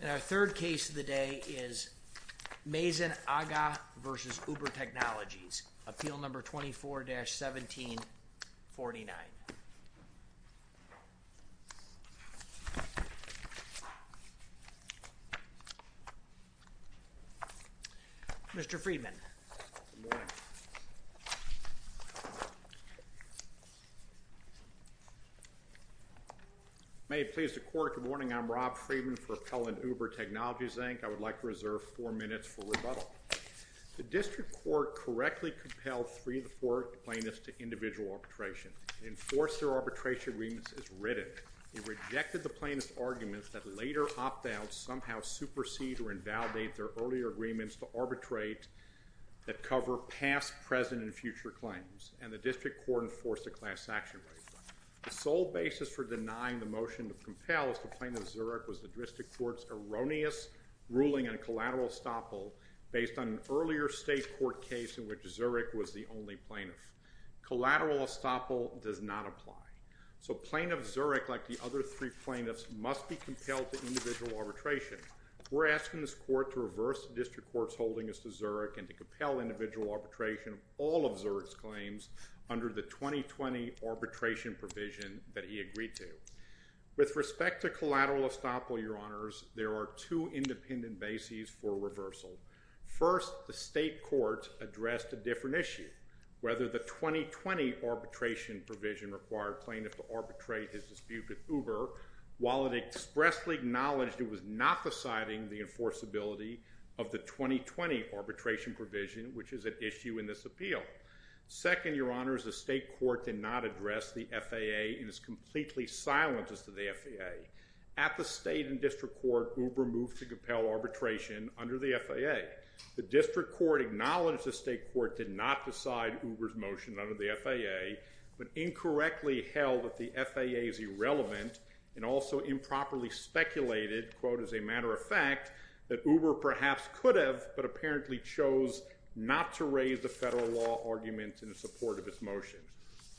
And our third case of the day is Mazen Agha v. Uber Technologies, Appeal No. 24-1749. Mr. Friedman. May it please the court, good morning. I'm Rob Friedman for Appel and Uber Technologies, Inc. I would like to reserve four minutes for rebuttal. The district court correctly compelled three of the four plaintiffs to individual arbitration and enforced their arbitration agreements as written. Instead, it rejected the plaintiffs' arguments that later opt-outs somehow supersede or invalidate their earlier agreements to arbitrate that cover past, present, and future claims. And the district court enforced a class-action right. The sole basis for denying the motion to compel is that Plaintiff Zurich was the district court's erroneous ruling on collateral estoppel based on an earlier state court case in which Zurich was the only plaintiff. Collateral estoppel does not apply. So Plaintiff Zurich, like the other three plaintiffs, must be compelled to individual arbitration. We're asking this court to reverse the district court's holding as to Zurich and to compel individual arbitration of all of Zurich's claims under the 2020 arbitration provision that he agreed to. With respect to collateral estoppel, Your Honors, there are two independent bases for reversal. First, the state court addressed a different issue. Whether the 2020 arbitration provision required plaintiff to arbitrate his dispute with Uber, while it expressly acknowledged it was not deciding the enforceability of the 2020 arbitration provision, which is at issue in this appeal. Second, Your Honors, the state court did not address the FAA and is completely silent as to the FAA. At the state and district court, Uber moved to compel arbitration under the FAA. The district court acknowledged the state court did not decide Uber's motion under the FAA, but incorrectly held that the FAA is irrelevant and also improperly speculated, quote, as a matter of fact, that Uber perhaps could have, but apparently chose not to raise the federal law argument in support of its motion.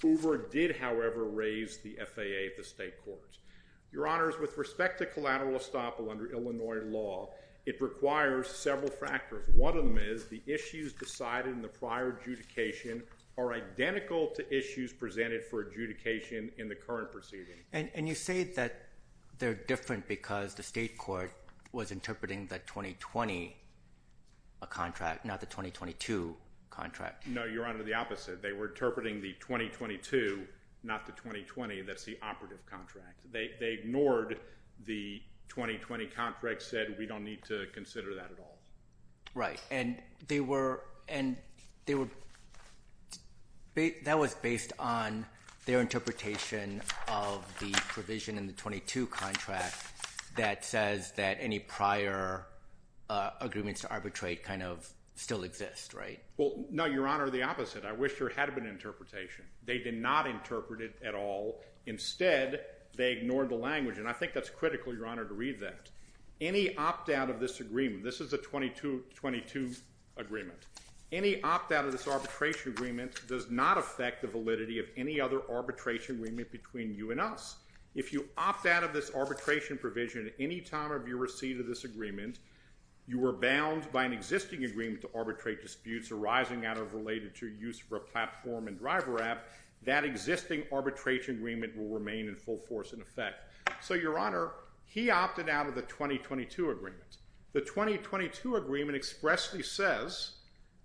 Uber did, however, raise the FAA at the state court. Your Honors, with respect to collateral estoppel under Illinois law, it requires several factors. One of them is the issues decided in the prior adjudication are identical to issues presented for adjudication in the current proceeding. And you say that they're different because the state court was interpreting the 2020 contract, not the 2022 contract. No, Your Honor, the opposite. They were interpreting the 2022, not the 2020. That's the operative contract. They ignored the 2020 contract, said we don't need to consider that at all. Right, and they were – that was based on their interpretation of the provision in the 22 contract that says that any prior agreements to arbitrate kind of still exist, right? Well, no, Your Honor, the opposite. I wish there had been interpretation. They did not interpret it at all. Instead, they ignored the language, and I think that's critical, Your Honor, to read that. Any opt-out of this agreement – this is a 2022 agreement. Any opt-out of this arbitration agreement does not affect the validity of any other arbitration agreement between you and us. If you opt out of this arbitration provision at any time of your receipt of this agreement, you are bound by an existing agreement to arbitrate disputes arising out of related to use of a platform and driver app. That existing arbitration agreement will remain in full force in effect. So, Your Honor, he opted out of the 2022 agreement. The 2022 agreement expressly says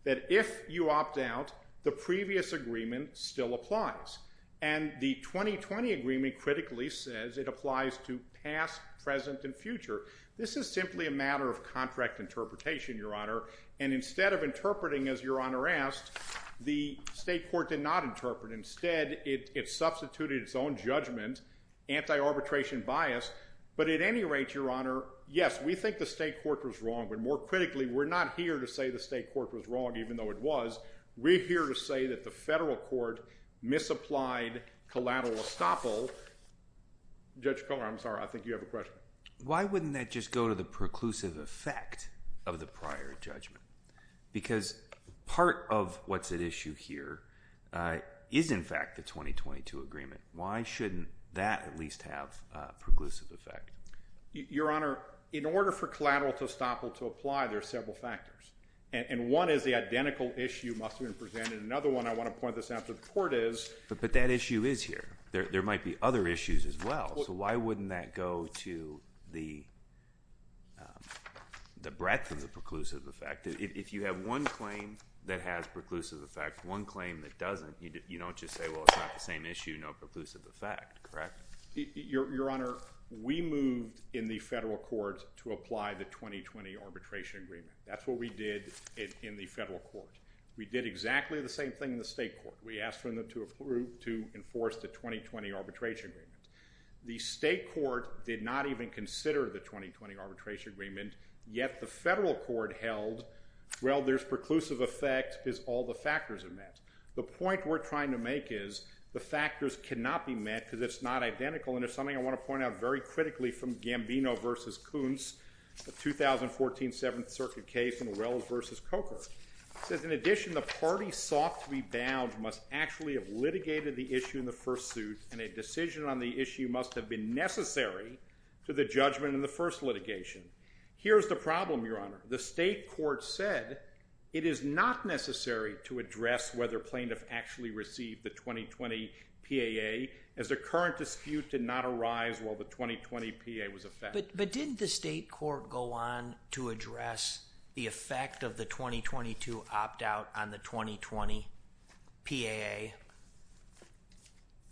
that if you opt out, the previous agreement still applies. And the 2020 agreement critically says it applies to past, present, and future. This is simply a matter of contract interpretation, Your Honor, and instead of interpreting as Your Honor asked, the state court did not interpret. Instead, it substituted its own judgment, anti-arbitration bias. But at any rate, Your Honor, yes, we think the state court was wrong, but more critically, we're not here to say the state court was wrong even though it was. We're here to say that the federal court misapplied collateral estoppel. Judge Kohler, I'm sorry, I think you have a question. Why wouldn't that just go to the preclusive effect of the prior judgment? Because part of what's at issue here is, in fact, the 2022 agreement. Why shouldn't that at least have a preclusive effect? Your Honor, in order for collateral estoppel to apply, there are several factors. And one is the identical issue must have been presented. Another one, I want to point this out to the court, is— But that issue is here. There might be other issues as well. So why wouldn't that go to the breadth of the preclusive effect? If you have one claim that has preclusive effect, one claim that doesn't, you don't just say, well, it's not the same issue, no preclusive effect, correct? Your Honor, we moved in the federal court to apply the 2020 arbitration agreement. That's what we did in the federal court. We did exactly the same thing in the state court. We asked them to enforce the 2020 arbitration agreement. The state court did not even consider the 2020 arbitration agreement, yet the federal court held, well, there's preclusive effect because all the factors are met. The point we're trying to make is the factors cannot be met because it's not identical. And there's something I want to point out very critically from Gambino v. Kuntz, a 2014 Seventh Circuit case in Orells v. Coker. It says, in addition, the party sought to be bound must actually have litigated the issue in the first suit, and a decision on the issue must have been necessary to the judgment in the first litigation. Here's the problem, Your Honor. The state court said it is not necessary to address whether plaintiff actually received the 2020 PAA, as the current dispute did not arise while the 2020 PAA was in effect. But didn't the state court go on to address the effect of the 2022 opt-out on the 2020 PAA?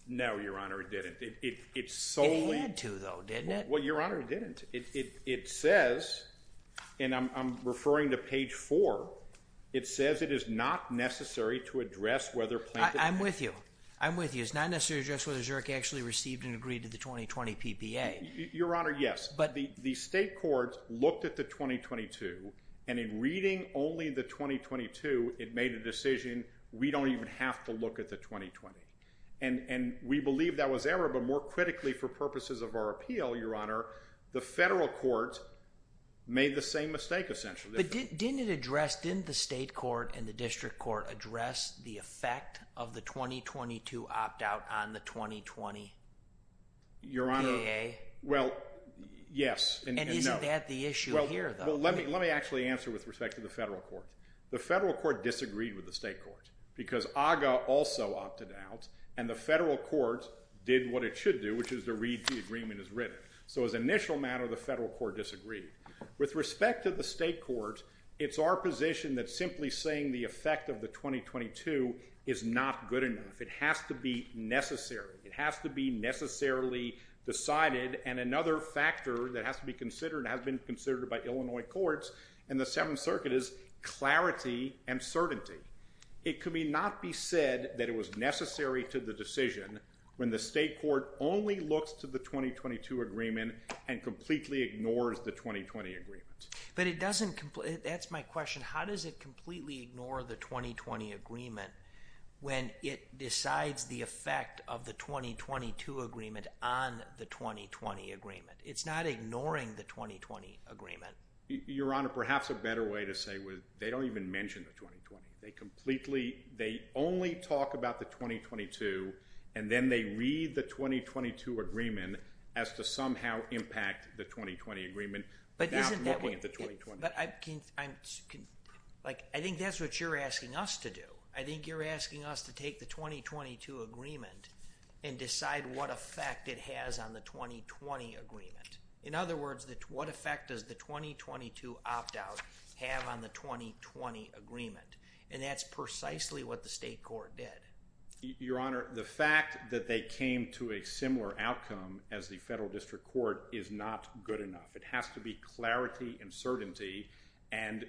No, Your Honor, it didn't. It solely— It had to, though, didn't it? Well, Your Honor, it didn't. It says, and I'm referring to page 4, it says it is not necessary to address whether plaintiff— I'm with you. I'm with you. It's not necessary to address whether Zurich actually received and agreed to the 2020 PPA. Your Honor, yes. But— The state court looked at the 2022, and in reading only the 2022, it made a decision we don't even have to look at the 2020. And we believe that was error, but more critically for purposes of our appeal, Your Honor, the federal court made the same mistake, essentially. But didn't it address—didn't the state court and the district court address the effect of the 2022 opt-out on the 2020 PAA? Your Honor, well, yes and no. And isn't that the issue here, though? Well, let me actually answer with respect to the federal court. The federal court disagreed with the state court because AGA also opted out, and the federal court did what it should do, which is to read the agreement as written. So as an initial matter, the federal court disagreed. With respect to the state court, it's our position that simply saying the effect of the 2022 is not good enough. It has to be necessary. It has to be necessarily decided. And another factor that has to be considered and has been considered by Illinois courts in the Seventh Circuit is clarity and certainty. It could not be said that it was necessary to the decision when the state court only looks to the 2022 agreement and completely ignores the 2020 agreement. But it doesn't—that's my question. How does it completely ignore the 2020 agreement when it decides the effect of the 2022 agreement on the 2020 agreement? It's not ignoring the 2020 agreement. Your Honor, perhaps a better way to say—they don't even mention the 2020. They completely—they only talk about the 2022, and then they read the 2022 agreement as to somehow impact the 2020 agreement. But isn't that what— Now I'm looking at the 2020. But I'm—like, I think that's what you're asking us to do. I think you're asking us to take the 2022 agreement and decide what effect it has on the 2020 agreement. In other words, what effect does the 2022 opt-out have on the 2020 agreement? And that's precisely what the state court did. Your Honor, the fact that they came to a similar outcome as the federal district court is not good enough. It has to be clarity and certainty, and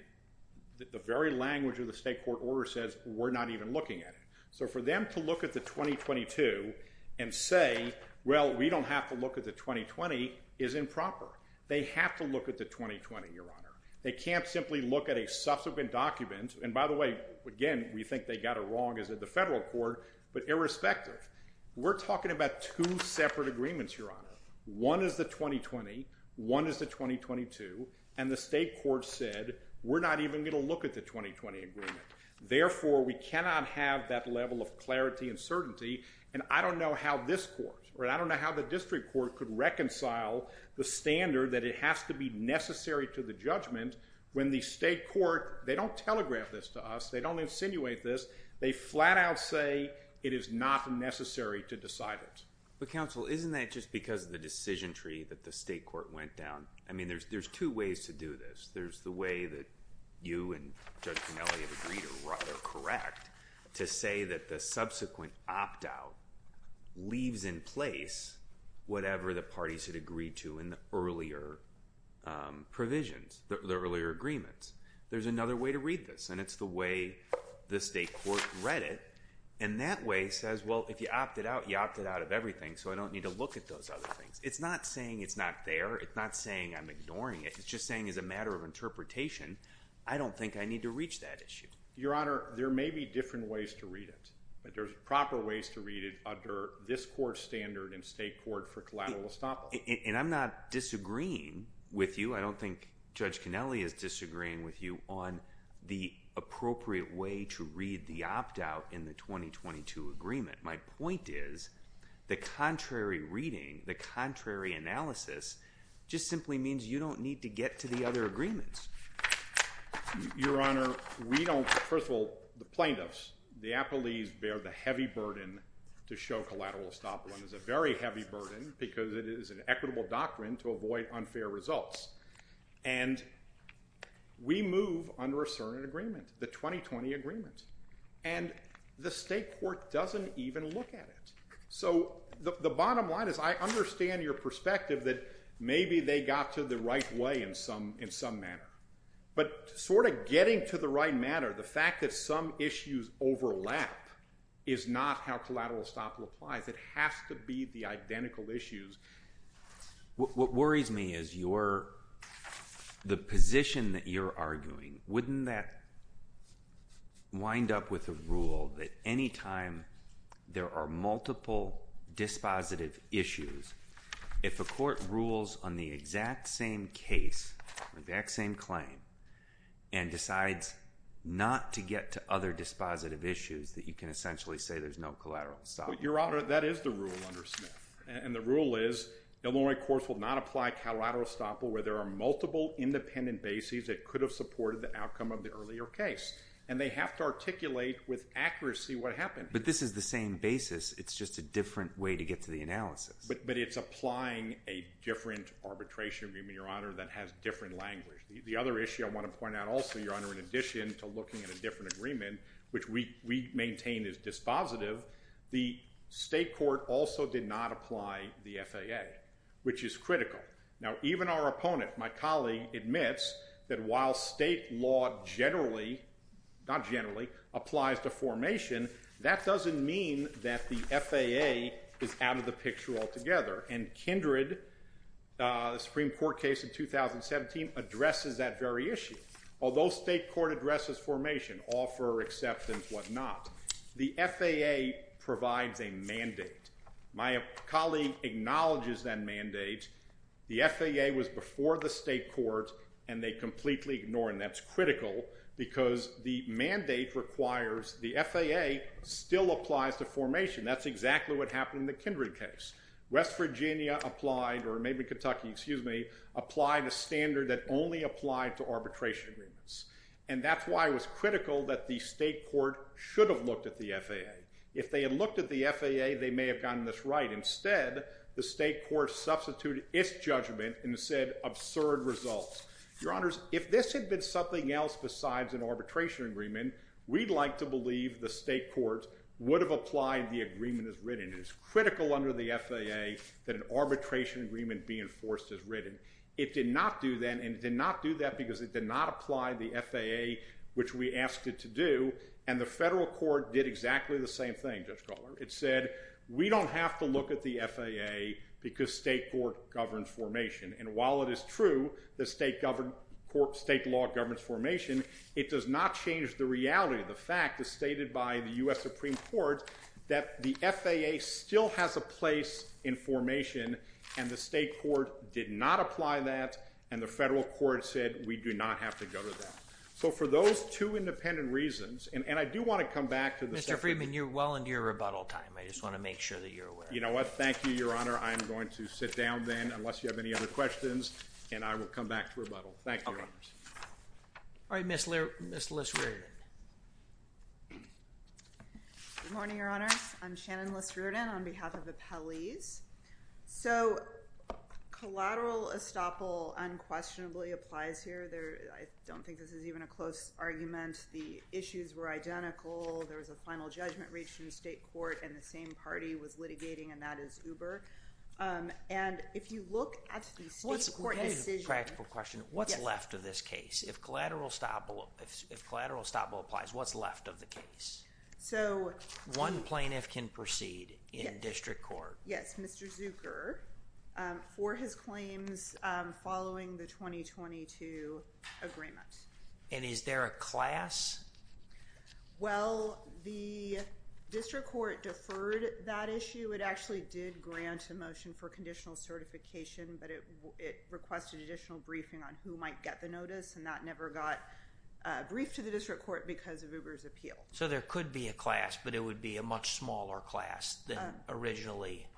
the very language of the state court order says we're not even looking at it. So for them to look at the 2022 and say, well, we don't have to look at the 2020, is improper. They have to look at the 2020, Your Honor. They can't simply look at a subsequent document. And by the way, again, we think they got it wrong as did the federal court, but irrespective. We're talking about two separate agreements, Your Honor. One is the 2020, one is the 2022, and the state court said we're not even going to look at the 2020 agreement. Therefore, we cannot have that level of clarity and certainty, and I don't know how this court, or I don't know how the district court, could reconcile the standard that it has to be necessary to the judgment when the state court—they don't telegraph this to us. They don't insinuate this. They flat-out say it is not necessary to decide it. But counsel, isn't that just because of the decision tree that the state court went down? I mean, there's two ways to do this. There's the way that you and Judge Pinelli have agreed or correct to say that the subsequent opt-out leaves in place whatever the parties had agreed to in the earlier provisions, the earlier agreements. There's another way to read this, and it's the way the state court read it. And that way says, well, if you opted out, you opted out of everything, so I don't need to look at those other things. It's not saying it's not there. It's not saying I'm ignoring it. It's just saying as a matter of interpretation, I don't think I need to reach that issue. Your Honor, there may be different ways to read it, but there's proper ways to read it under this court's standard and state court for collateral estoppel. And I'm not disagreeing with you. I don't think Judge Pinelli is disagreeing with you on the appropriate way to read the opt-out in the 2022 agreement. My point is the contrary reading, the contrary analysis just simply means you don't need to get to the other agreements. Your Honor, we don't – first of all, the plaintiffs, the apt-to-leaves bear the heavy burden to show collateral estoppel. It's a very heavy burden because it is an equitable doctrine to avoid unfair results. And we move under a certain agreement, the 2020 agreement, and the state court doesn't even look at it. So the bottom line is I understand your perspective that maybe they got to the right way in some manner. But sort of getting to the right manner, the fact that some issues overlap is not how collateral estoppel applies. It has to be the identical issues. What worries me is your – the position that you're arguing. Wouldn't that wind up with a rule that any time there are multiple dispositive issues, if a court rules on the exact same case or the exact same claim and decides not to get to other dispositive issues, that you can essentially say there's no collateral estoppel? Your Honor, that is the rule under Smith. And the rule is Illinois courts will not apply collateral estoppel where there are multiple independent bases that could have supported the outcome of the earlier case. And they have to articulate with accuracy what happened. But this is the same basis. It's just a different way to get to the analysis. But it's applying a different arbitration agreement, Your Honor, that has different language. The other issue I want to point out also, Your Honor, in addition to looking at a different agreement, which we maintain is dispositive, the state court also did not apply the FAA, which is critical. Now, even our opponent, my colleague, admits that while state law generally – not generally – applies to formation, that doesn't mean that the FAA is out of the picture altogether. And Kindred, the Supreme Court case of 2017, addresses that very issue. Although state court addresses formation, offer, acceptance, whatnot, the FAA provides a mandate. My colleague acknowledges that mandate. The FAA was before the state court, and they completely ignore it. And that's critical because the mandate requires the FAA still applies to formation. That's exactly what happened in the Kindred case. West Virginia applied – or maybe Kentucky, excuse me – applied a standard that only applied to arbitration agreements. And that's why it was critical that the state court should have looked at the FAA. If they had looked at the FAA, they may have gotten this right. Instead, the state court substituted its judgment and said, absurd results. Your Honors, if this had been something else besides an arbitration agreement, we'd like to believe the state court would have applied the agreement as written. It is critical under the FAA that an arbitration agreement be enforced as written. It did not do that, and it did not do that because it did not apply the FAA, which we asked it to do. And the federal court did exactly the same thing, Judge Kotler. It said, we don't have to look at the FAA because state court governs formation. And while it is true that state law governs formation, it does not change the reality of the fact as stated by the U.S. Supreme Court that the FAA still has a place in formation, and the state court did not apply that, and the federal court said, we do not have to go to that. So for those two independent reasons – and I do want to come back to the separate – Mr. Friedman, you're well into your rebuttal time. I just want to make sure that you're aware. You know what? Thank you, Your Honor. I'm going to sit down then, unless you have any other questions, and I will come back to rebuttal. Thank you, Your Honors. All right, Ms. Liss-Riordan. Good morning, Your Honors. I'm Shannon Liss-Riordan on behalf of Appellees. So collateral estoppel unquestionably applies here. I don't think this is even a close argument. The issues were identical. There was a final judgment reached in the state court, and the same party was litigating, and that is Uber. And if you look at the state court decision – If collateral estoppel applies, what's left of the case? One plaintiff can proceed in district court. Yes, Mr. Zucker, for his claims following the 2022 agreement. And is there a class? Well, the district court deferred that issue. It actually did grant a motion for conditional certification, but it requested additional briefing on who might get the notice, and that never got briefed to the district court because of Uber's appeal. So there could be a class, but it would be a much smaller class than originally –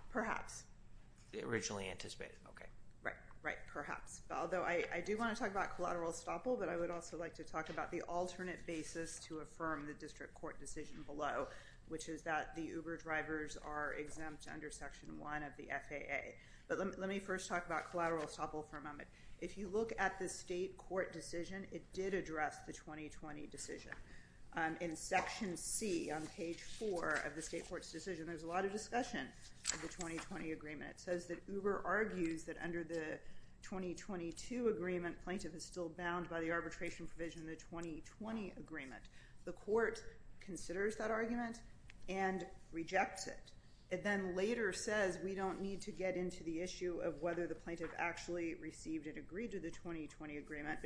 Originally anticipated. Okay. Right. Right. Perhaps. Although I do want to talk about collateral estoppel, but I would also like to talk about the alternate basis to affirm the district court decision below, which is that the Uber drivers are exempt under Section 1 of the FAA. But let me first talk about collateral estoppel for a moment. If you look at the state court decision, it did address the 2020 decision. In Section C on page 4 of the state court's decision, there's a lot of discussion of the 2020 agreement. It says that Uber argues that under the 2022 agreement, plaintiff is still bound by the arbitration provision of the 2020 agreement. The court considers that argument and rejects it. It then later says we don't need to get into the issue of whether the plaintiff actually received and agreed to the 2020 agreement.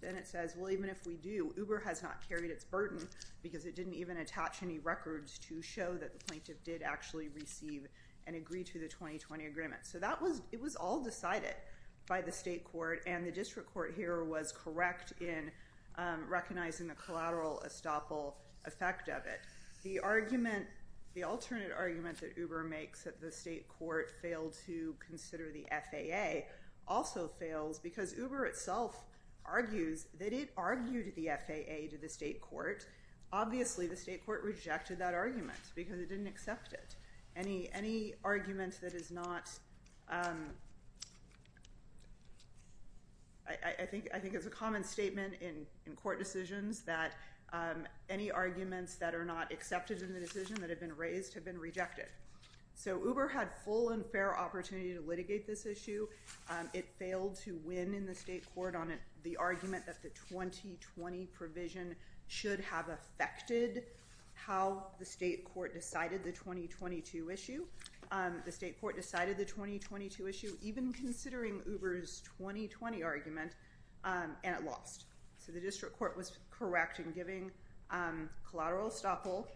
Then it says, well, even if we do, Uber has not carried its burden because it didn't even attach any records to show that the plaintiff did actually receive and agree to the 2020 agreement. So that was – it was all decided by the state court, and the district court here was correct in recognizing the collateral estoppel effect of it. The argument – the alternate argument that Uber makes that the state court failed to consider the FAA also fails because Uber itself argues that it argued the FAA to the state court. Obviously, the state court rejected that argument because it didn't accept it. Any argument that is not – I think it's a common statement in court decisions that any arguments that are not accepted in the decision that have been raised have been rejected. So Uber had full and fair opportunity to litigate this issue. It failed to win in the state court on the argument that the 2020 provision should have affected how the state court decided the 2022 issue. The state court decided the 2022 issue even considering Uber's 2020 argument, and it lost. So the district court was correct in giving collateral estoppel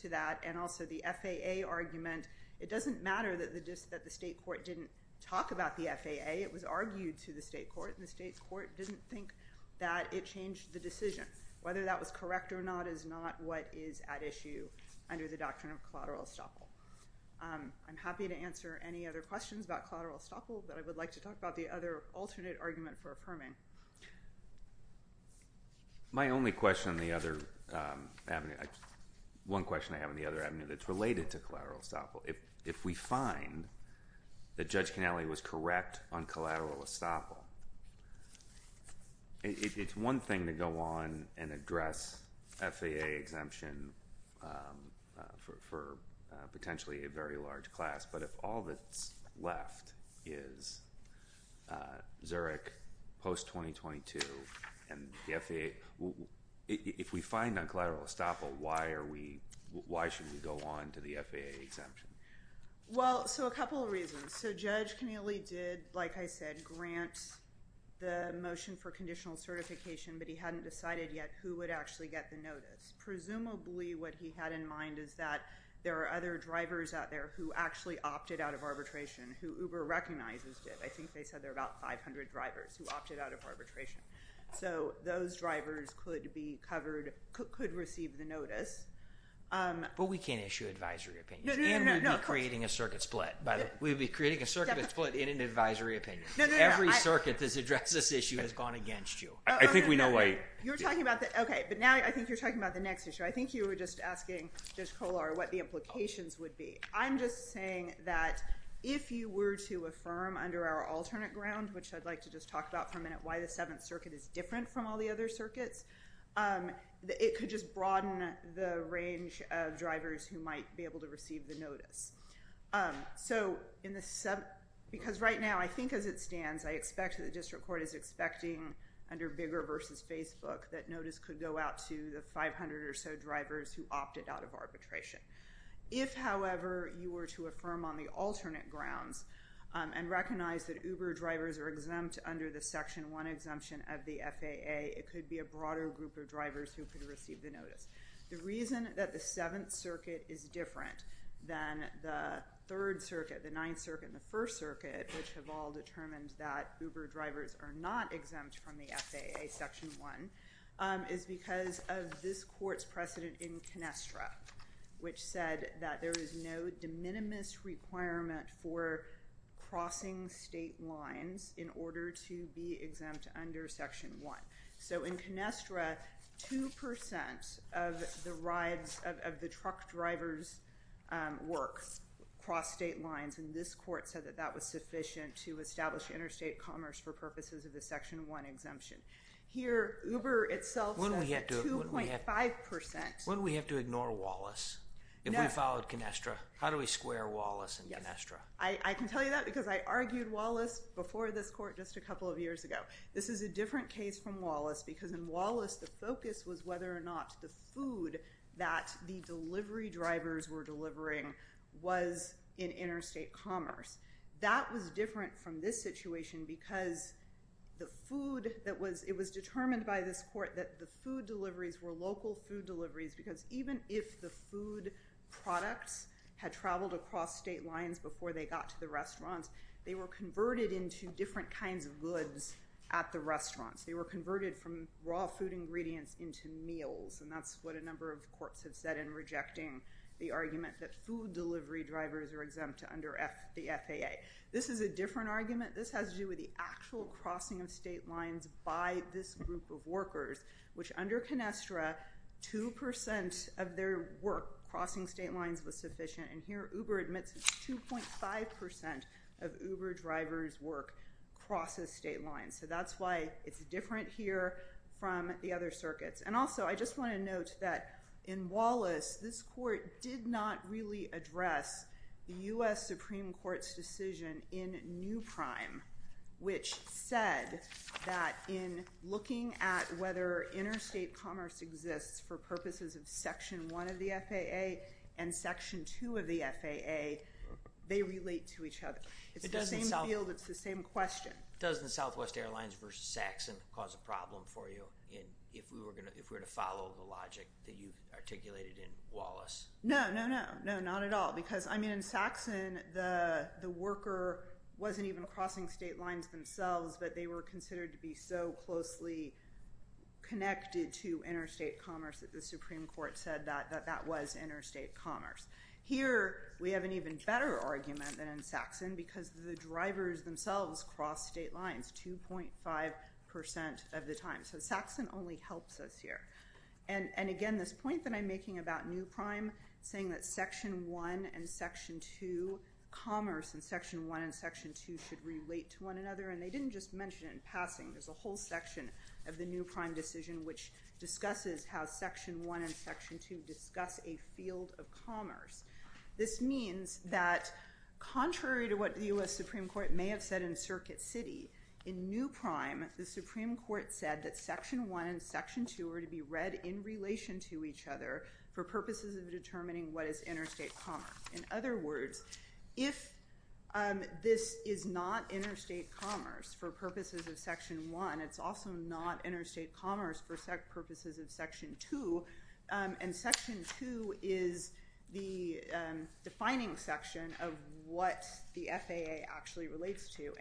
to that and also the FAA argument. It doesn't matter that the state court didn't talk about the FAA. It was argued to the state court, and the state court didn't think that it changed the decision. Whether that was correct or not is not what is at issue under the doctrine of collateral estoppel. I'm happy to answer any other questions about collateral estoppel, but I would like to talk about the other alternate argument for affirming. My only question on the other avenue – one question I have on the other avenue that's related to collateral estoppel. If we find that Judge Cannelli was correct on collateral estoppel, it's one thing to go on and address FAA exemption for potentially a very large class, but if all that's left is Zurich post-2022 and the FAA – if we find on collateral estoppel, why should we go on to the FAA exemption? Well, so a couple of reasons. So Judge Cannelli did, like I said, grant the motion for conditional certification, but he hadn't decided yet who would actually get the notice. Presumably what he had in mind is that there are other drivers out there who actually opted out of arbitration, who Uber recognizes did. I think they said there are about 500 drivers who opted out of arbitration. So those drivers could be covered – could receive the notice. But we can't issue advisory opinions. No, no, no. And we'd be creating a circuit split. We'd be creating a circuit split in an advisory opinion. No, no, no. Every circuit that's addressed this issue has gone against you. I think we know why – You're talking about the – okay. But now I think you're talking about the next issue. I think you were just asking, Judge Kollar, what the implications would be. I'm just saying that if you were to affirm under our alternate ground, which I'd like to just talk about for a minute why the Seventh Circuit is different from all the other circuits, it could just broaden the range of drivers who might be able to receive the notice. So in the – because right now I think as it stands, I expect that the district court is expecting under Bigger versus Facebook that notice could go out to the 500 or so drivers who opted out of arbitration. If, however, you were to affirm on the alternate grounds and recognize that Uber drivers are exempt under the Section 1 exemption of the FAA, it could be a broader group of drivers who could receive the notice. The reason that the Seventh Circuit is different than the Third Circuit, the Ninth Circuit, and the First Circuit, which have all determined that Uber drivers are not exempt from the FAA Section 1, is because of this court's precedent in Canestra, which said that there is no de minimis requirement for crossing state lines in order to be exempt under Section 1. So in Canestra, 2% of the rides – of the truck drivers' work cross state lines, and this court said that that was sufficient to establish interstate commerce for purposes of the Section 1 exemption. Here, Uber itself says 2.5%. Wouldn't we have to ignore Wallace if we followed Canestra? How do we square Wallace and Canestra? I can tell you that because I argued Wallace before this court just a couple of years ago. This is a different case from Wallace because in Wallace, the focus was whether or not the food that the delivery drivers were delivering was in interstate commerce. That was different from this situation because the food that was – it was determined by this court that the food deliveries were local food deliveries because even if the food products had traveled across state lines before they got to the restaurants, they were converted into different kinds of goods at the restaurants. They were converted from raw food ingredients into meals, and that's what a number of courts have said in rejecting the argument that food delivery drivers are exempt under the FAA. This is a different argument. This has to do with the actual crossing of state lines by this group of workers, which under Canestra, 2% of their work crossing state lines was sufficient, and here Uber admits 2.5% of Uber drivers' work crosses state lines. So that's why it's different here from the other circuits. And also, I just want to note that in Wallace, this court did not really address the U.S. Supreme Court's decision in New Prime, which said that in looking at whether interstate commerce exists for purposes of Section 1 of the FAA and Section 2 of the FAA, they relate to each other. It's the same field. It's the same question. Doesn't Southwest Airlines v. Saxon cause a problem for you if we were to follow the logic that you articulated in Wallace? No, no, no, no, not at all because, I mean, in Saxon, the worker wasn't even crossing state lines themselves, but they were considered to be so closely connected to interstate commerce that the Supreme Court said that that was interstate commerce. Here we have an even better argument than in Saxon because the drivers themselves cross state lines 2.5% of the time. So Saxon only helps us here. And, again, this point that I'm making about New Prime, saying that Section 1 and Section 2, commerce in Section 1 and Section 2 should relate to one another, and they didn't just mention it in passing. There's a whole section of the New Prime decision which discusses how Section 1 and Section 2 discuss a field of commerce. This means that, contrary to what the U.S. Supreme Court may have said in Circuit City, in New Prime the Supreme Court said that Section 1 and Section 2 are to be read in relation to each other for purposes of determining what is interstate commerce. In other words, if this is not interstate commerce for purposes of Section 1, it's also not interstate commerce for purposes of Section 2, and Section 2 is the defining section of what the FAA actually relates to,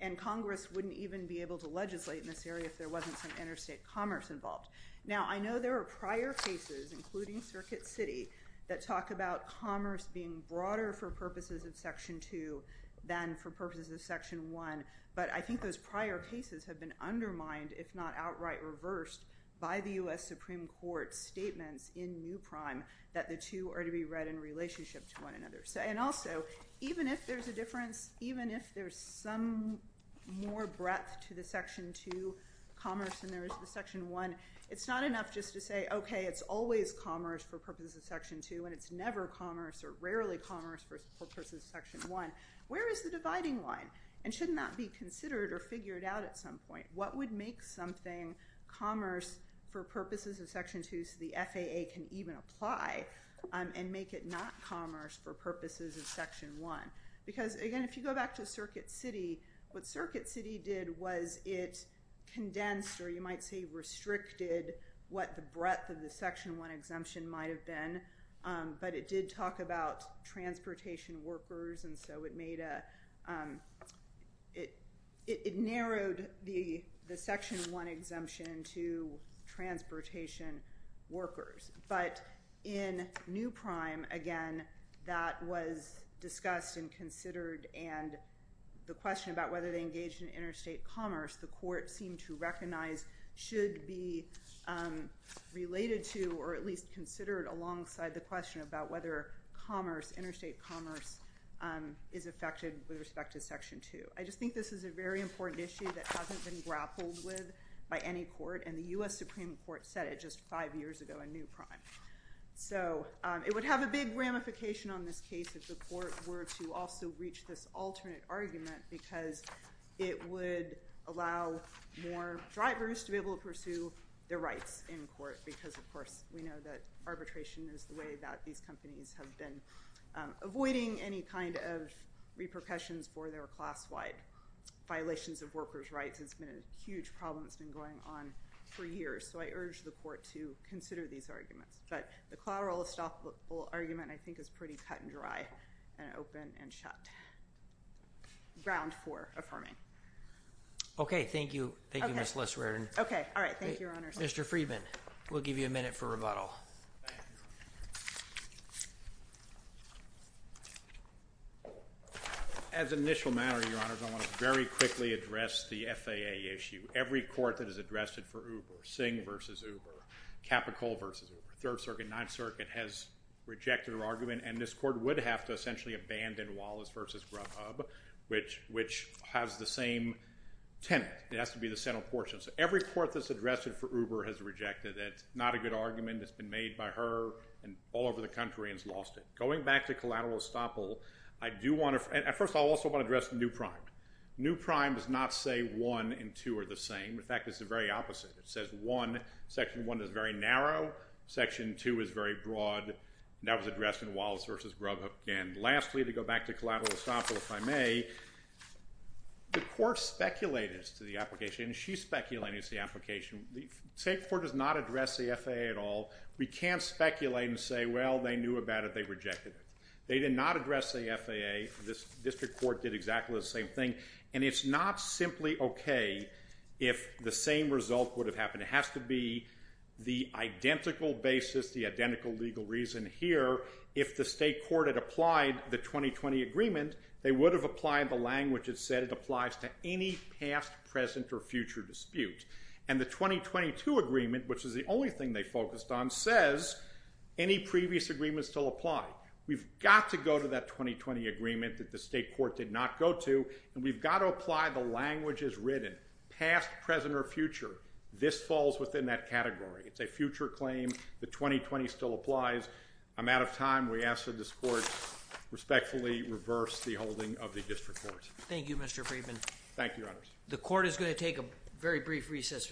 and Congress wouldn't even be able to legislate in this area if there wasn't some interstate commerce involved. Now, I know there are prior cases, including Circuit City, that talk about commerce being broader for purposes of Section 2 than for purposes of Section 1, but I think those prior cases have been undermined, if not outright reversed, by the U.S. Supreme Court's statements in New Prime that the two are to be read in relationship to one another. And also, even if there's a difference, even if there's some more breadth to the Section 2 commerce than there is to the Section 1, it's not enough just to say, okay, it's always commerce for purposes of Section 2, and it's never commerce or rarely commerce for purposes of Section 1. Where is the dividing line? And shouldn't that be considered or figured out at some point? What would make something commerce for purposes of Section 2 so the FAA can even apply and make it not commerce for purposes of Section 1? Because, again, if you go back to Circuit City, what Circuit City did was it condensed, or you might say restricted, what the breadth of the Section 1 exemption might have been, but it did talk about transportation workers, and so it narrowed the Section 1 exemption to transportation workers. But in New Prime, again, that was discussed and considered, and the question about whether they engaged in interstate commerce, the court seemed to recognize, should be related to or at least considered alongside the question about whether commerce, interstate commerce, is affected with respect to Section 2. I just think this is a very important issue that hasn't been grappled with by any court, and the U.S. Supreme Court said it just five years ago in New Prime. So it would have a big ramification on this case if the court were to also reach this alternate argument because it would allow more drivers to be able to pursue their rights in court because, of course, we know that arbitration is the way that these companies have been avoiding any kind of repercussions for their class-wide violations of workers' rights. It's been a huge problem. It's been going on for years. So I urge the court to consider these arguments. But the collateral estoppel argument, I think, is pretty cut and dry and open and shut. Ground four affirming. Okay. Thank you. Thank you, Ms. Lisserer. Okay. All right. Thank you, Your Honors. Mr. Friedman, we'll give you a minute for rebuttal. Thank you. As an initial matter, Your Honors, I want to very quickly address the FAA issue. Every court that has addressed it for Uber, Singh v. Uber, Capitol v. Uber, Third Circuit, Ninth Circuit has rejected our argument, and this court would have to essentially abandon Wallace v. Grubhub, which has the same tenant. It has to be the central portion. So every court that's addressed it for Uber has rejected it. It's not a good argument. It's been made by her and all over the country and has lost it. Going back to collateral estoppel, I do want to – first of all, I also want to address New Prime. New Prime does not say one and two are the same. In fact, it's the very opposite. It says one – section one is very narrow, section two is very broad, and that was addressed in Wallace v. Grubhub. And lastly, to go back to collateral estoppel, if I may, the court speculated to the application, and she speculated to the application, the state court does not address the FAA at all. We can't speculate and say, well, they knew about it. They rejected it. They did not address the FAA. This district court did exactly the same thing, and it's not simply okay if the same result would have happened. It has to be the identical basis, the identical legal reason here. If the state court had applied the 2020 agreement, they would have applied the language. It said it applies to any past, present, or future dispute, and the 2022 agreement, which is the only thing they focused on, says any previous agreements still apply. We've got to go to that 2020 agreement that the state court did not go to, and we've got to apply the language as written, past, present, or future. This falls within that category. It's a future claim. The 2020 still applies. I'm out of time. We ask that this court respectfully reverse the holding of the district court. Thank you, Mr. Friedman. Thank you, Your Honors. The court is going to take a very brief recess.